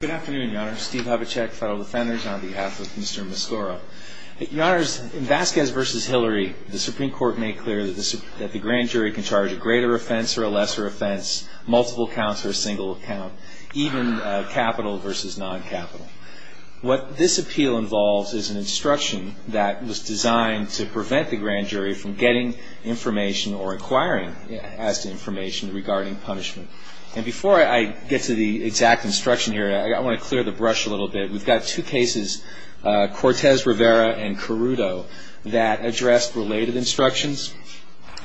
Good afternoon, Your Honor. Steve Havacek, Federal Defenders, on behalf of Mr. Mascorro. Your Honor, in Vasquez v. Hillary, the Supreme Court made clear that the grand jury can charge a greater offense or a lesser offense, multiple counts or a single count, even capital v. non-capital. What this appeal involves is an instruction that was designed to prevent the grand jury from getting information or inquiring as to information regarding punishment. And before I get to the exact instruction here, I want to clear the brush a little bit. We've got two cases, Cortez-Rivera and Carudo, that address related instructions.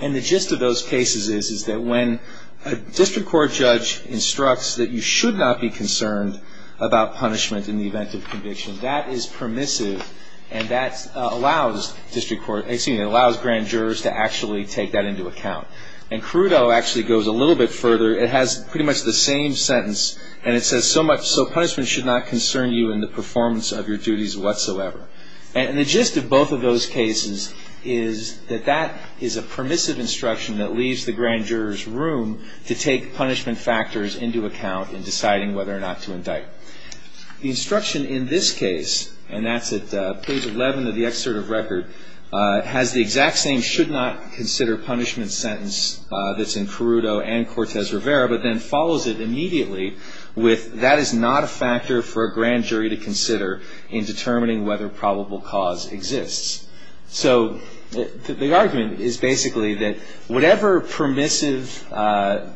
And the gist of those cases is that when a district court judge instructs that you should not be concerned about punishment in the event of conviction, that is permissive and that allows district court, excuse me, that allows grand jurors to actually take that into account. And Carudo actually goes a little bit further. It has pretty much the same sentence. And it says so much, so punishment should not concern you in the performance of your duties whatsoever. And the gist of both of those cases is that that is a permissive instruction that leaves the grand jurors room to take punishment factors into account in deciding whether or not to indict. The instruction in this case, and that's at page 11 of the excerpt of record, has the exact same should not consider punishment sentence that's in Carudo and Cortez-Rivera, but then follows it immediately with that is not a factor for a grand jury to consider in determining whether probable cause exists. So the argument is basically that whatever permissive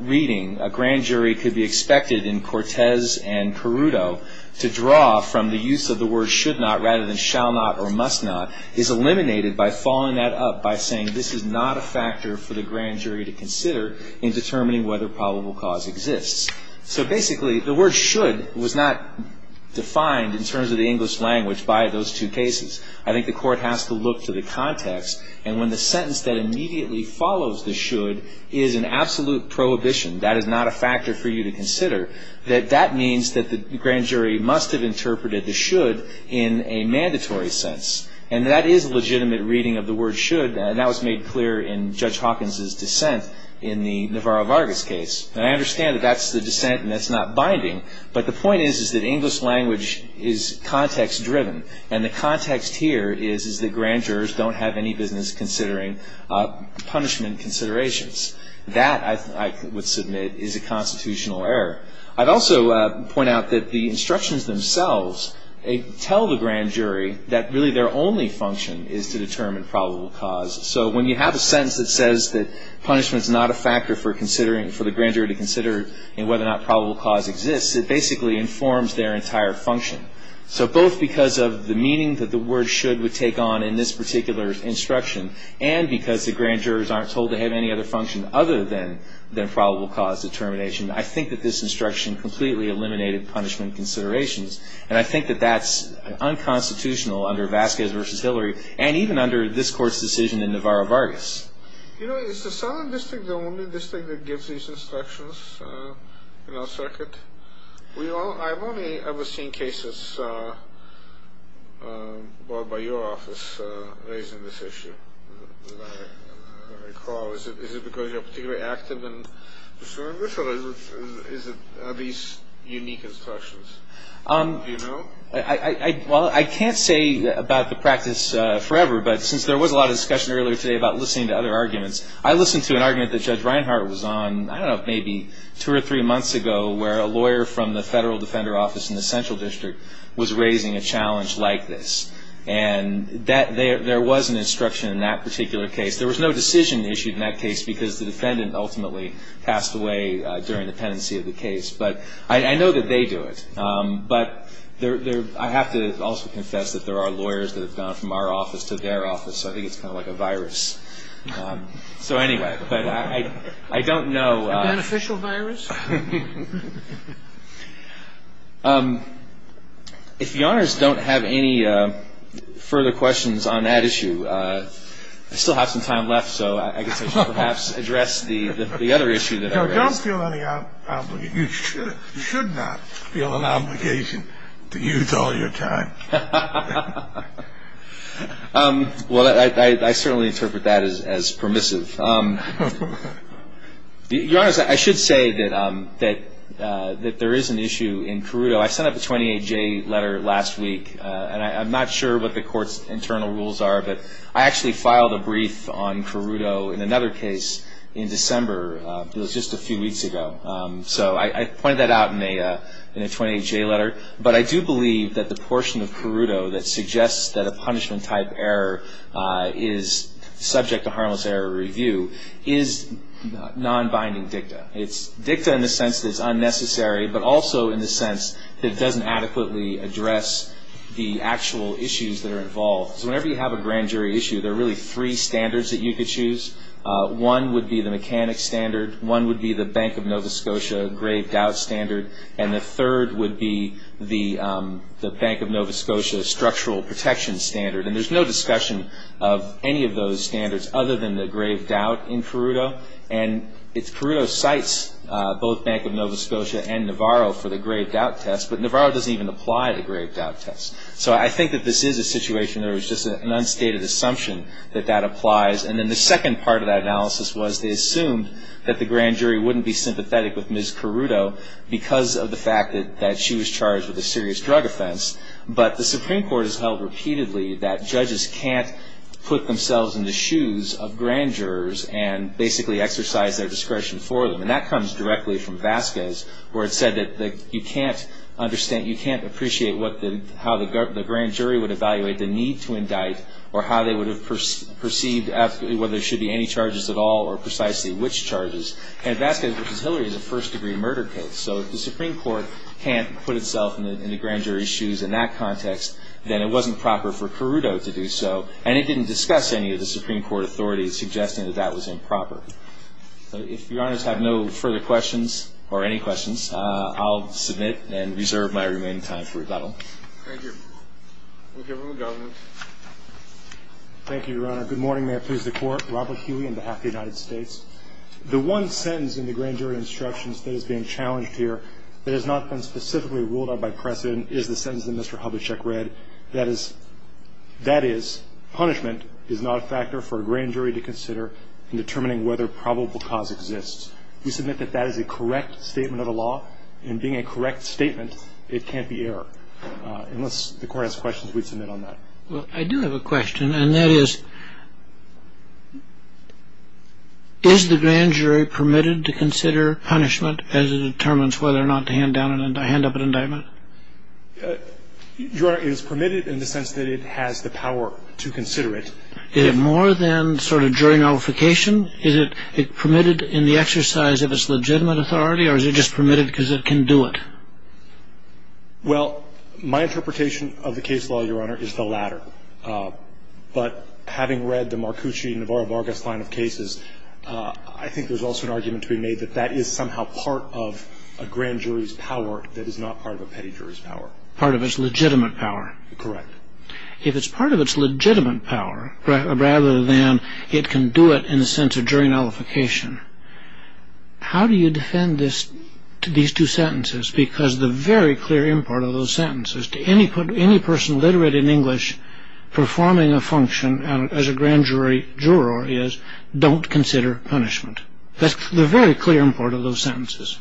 reading a grand jury could be expected in Cortez and Carudo to draw from the use of the word should not rather than shall not or must not is eliminated by following that up by saying this is not a factor for the grand jury to consider in determining whether probable cause exists. So basically the word should was not defined in terms of the English language by those two cases. I think the court has to look to the context. And when the sentence that immediately follows the should is an absolute prohibition, that is not a factor for you to consider, that that means that the grand jury must have interpreted the should in a mandatory sense. And that is a legitimate reading of the word should, and that was made clear in Judge Hawkins' dissent in the Navarro-Vargas case. And I understand that that's the dissent and that's not binding. But the point is that English language is context-driven, and the context here is that grand jurors don't have any business considering punishment considerations. That, I would submit, is a constitutional error. I'd also point out that the instructions themselves tell the grand jury that really their only function is to determine probable cause. So when you have a sentence that says that punishment is not a factor for considering, for the grand jury to consider whether or not probable cause exists, it basically informs their entire function. So both because of the meaning that the word should would take on in this particular instruction, and because the grand jurors aren't told to have any other function other than probable cause determination, I think that this instruction completely eliminated punishment considerations. And I think that that's unconstitutional under Vasquez v. Hillary, and even under this Court's decision in Navarro-Vargas. You know, is the Southern District the only district that gives these instructions in our circuit? I've only ever seen cases brought by your office raising this issue. If I recall, is it because you're particularly active in the Southern District, or are these unique instructions? Do you know? Well, I can't say about the practice forever, but since there was a lot of discussion earlier today about listening to other arguments, I listened to an argument that Judge Reinhart was on, I don't know, maybe two or three months ago, where a lawyer from the Federal Defender Office in the Central District was raising a challenge like this. And there was an instruction in that particular case. There was no decision issued in that case because the defendant ultimately passed away during the pendency of the case. But I know that they do it. But I have to also confess that there are lawyers that have gone from our office to their office, so I think it's kind of like a virus. So anyway, but I don't know. A beneficial virus? If Your Honors don't have any further questions on that issue, I still have some time left, so I guess I should perhaps address the other issue that I raised. You don't feel any obligation. You should not feel an obligation to use all your time. Well, I certainly interpret that as permissive. Your Honors, I should say that there is an issue in Carrudo. I sent up a 28-J letter last week, and I'm not sure what the Court's internal rules are, but I actually filed a brief on Carrudo in another case in December. It was just a few weeks ago. So I pointed that out in a 28-J letter. But I do believe that the portion of Carrudo that suggests that a punishment-type error is subject to harmless error review is non-binding dicta. It's dicta in the sense that it's unnecessary, but also in the sense that it doesn't adequately address the actual issues that are involved. So whenever you have a grand jury issue, there are really three standards that you could choose. One would be the mechanic standard. One would be the Bank of Nova Scotia grave doubt standard. And the third would be the Bank of Nova Scotia structural protection standard. And there's no discussion of any of those standards other than the grave doubt in Carrudo. And Carrudo cites both Bank of Nova Scotia and Navarro for the grave doubt test, but Navarro doesn't even apply the grave doubt test. So I think that this is a situation where it's just an unstated assumption that that applies. And then the second part of that analysis was they assumed that the grand jury wouldn't be sympathetic with Ms. Carrudo because of the fact that she was charged with a serious drug offense. But the Supreme Court has held repeatedly that judges can't put themselves in the shoes of grand jurors and basically exercise their discretion for them. And that comes directly from Vasquez, where it said that you can't appreciate how the grand jury would evaluate the need to indict or how they would have perceived whether there should be any charges at all or precisely which charges. And Vasquez v. Hillary is a first-degree murder case. So if the Supreme Court can't put itself in the grand jury's shoes in that context, then it wasn't proper for Carrudo to do so. And it didn't discuss any of the Supreme Court authorities suggesting that that was improper. If Your Honors have no further questions or any questions, I'll submit and reserve my remaining time for rebuttal. Thank you. We'll give him a moment. Thank you, Your Honor. Good morning. May it please the Court. Robert Huey on behalf of the United States. The one sentence in the grand jury instructions that is being challenged here that has not been specifically ruled out by precedent is the sentence that Mr. Hubachek read, that is, punishment is not a factor for a grand jury to consider in determining whether probable cause exists. We submit that that is a correct statement of the law, and being a correct statement, it can't be error. Unless the Court has questions, we submit on that. Well, I do have a question, and that is, is the grand jury permitted to consider punishment as it determines whether or not to hand up an indictment? Your Honor, it is permitted in the sense that it has the power to consider it. Is it more than sort of jury nullification? Is it permitted in the exercise of its legitimate authority, or is it just permitted because it can do it? Well, my interpretation of the case law, Your Honor, is the latter. But having read the Marcucci-Navarro-Vargas line of cases, I think there's also an argument to be made that that is somehow part of a grand jury's power that is not part of a petty jury's power. Part of its legitimate power? Correct. If it's part of its legitimate power rather than it can do it in the sense of jury nullification, how do you defend these two sentences? Because the very clear import of those sentences, to any person literate in English performing a function as a grand jury juror is, don't consider punishment. That's the very clear import of those sentences.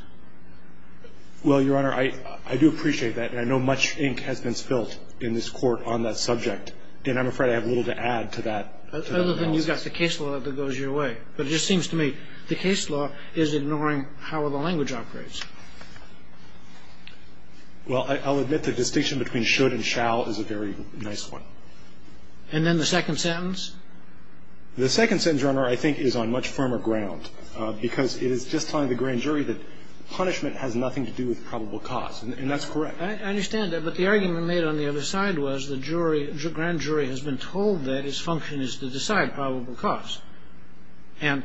Well, Your Honor, I do appreciate that, and I know much ink has been spilt in this Court on that subject, and I'm afraid I have little to add to that. Other than you've got the case law that goes your way. But it just seems to me the case law is ignoring how the language operates. Well, I'll admit the distinction between should and shall is a very nice one. And then the second sentence? The second sentence, Your Honor, I think is on much firmer ground because it is just telling the grand jury that punishment has nothing to do with probable cause, and that's correct. I understand that, but the argument made on the other side was the jury, the grand jury has been told that its function is to decide probable cause. And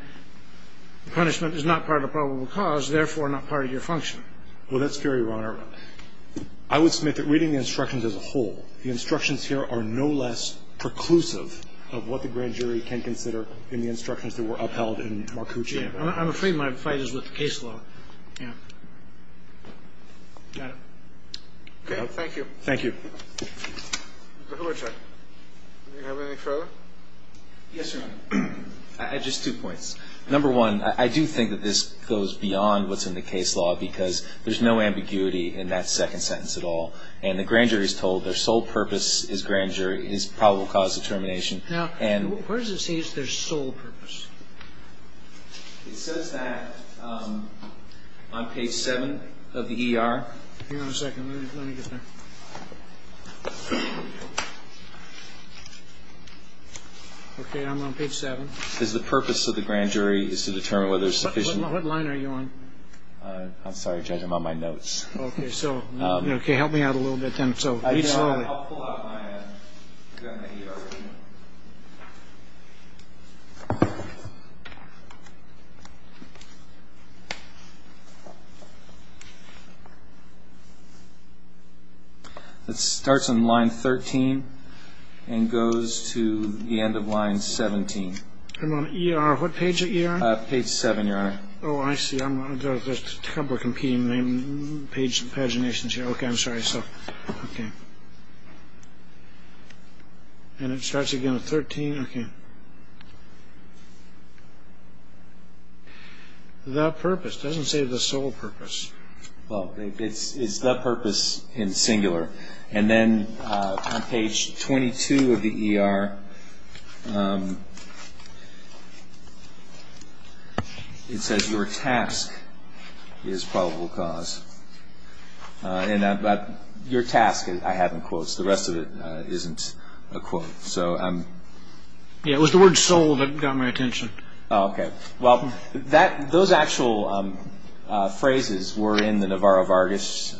punishment is not part of probable cause, therefore not part of your function. Well, that's fair, Your Honor. I would submit that reading the instructions as a whole, the instructions here are no less preclusive of what the grand jury can consider in the instructions that were upheld in Marcucci. I'm afraid my fight is with the case law. Yeah. Got it. Okay. Thank you. Thank you. Mr. Hluchek, do you have anything further? Yes, Your Honor. Just two points. Number one, I do think that this goes beyond what's in the case law because there's no ambiguity in that second sentence at all. And the grand jury is told their sole purpose as grand jury is probable cause determination. Now, what does it say is their sole purpose? It says that on page 7 of the ER. Hang on a second. Let me get that. Okay. I'm on page 7. It says the purpose of the grand jury is to determine whether sufficient. What line are you on? I'm sorry, Judge. I'm on my notes. Okay. So help me out a little bit then. I'll pull out my ER. It starts on line 13 and goes to the end of line 17. I'm on ER. What page are you on? Page 7, Your Honor. Oh, I see. There's a couple of competing paginations here. Okay, I'm sorry. Okay. And it starts again at 13. Okay. The purpose. It doesn't say the sole purpose. Well, it's the purpose in singular. And then on page 22 of the ER, it says your task is probable cause. But your task, I have in quotes. The rest of it isn't a quote. Yeah, it was the word soul that got my attention. Okay. Well, those actual phrases were in the Navarro-Vargas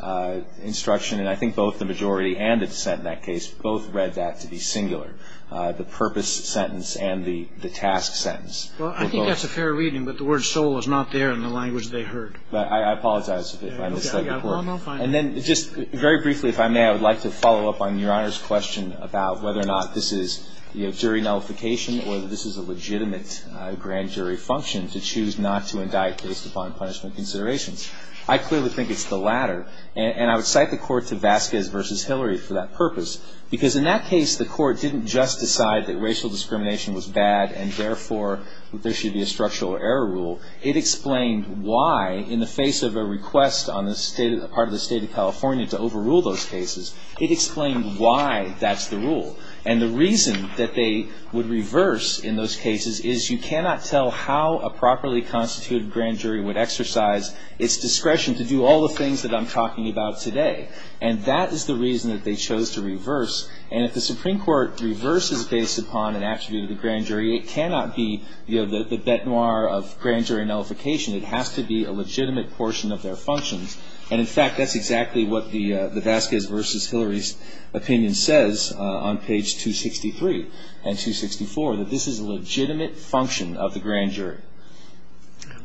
instruction, and I think both the majority and the dissent in that case both read that to be singular, the purpose sentence and the task sentence. Well, I think that's a fair reading, but the word soul is not there in the language they heard. I apologize if I misled you. Well, no, fine. And then just very briefly, if I may, I would like to follow up on Your Honor's question about whether or not this is jury nullification or whether this is a legitimate grand jury function to choose not to indict based upon punishment considerations. I clearly think it's the latter. And I would cite the court to Vasquez v. Hillary for that purpose, because in that case the court didn't just decide that racial discrimination was bad and therefore there should be a structural error rule. It explained why in the face of a request on the part of the state of California to overrule those cases, it explained why that's the rule. And the reason that they would reverse in those cases is you cannot tell how a properly constituted grand jury would exercise its discretion to do all the things that I'm talking about today. And that is the reason that they chose to reverse. And if the Supreme Court reverses based upon an attribute of the grand jury, it cannot be, you know, the bet noir of grand jury nullification. It has to be a legitimate portion of their functions. And, in fact, that's exactly what the Vasquez v. Hillary's opinion says on page 263 and 264, that this is a legitimate function of the grand jury.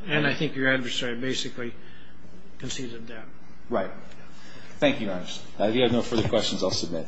And I think your adversary basically concedes a debt. Right. Thank you, Your Honor. If you have no further questions, I'll submit. Thank you.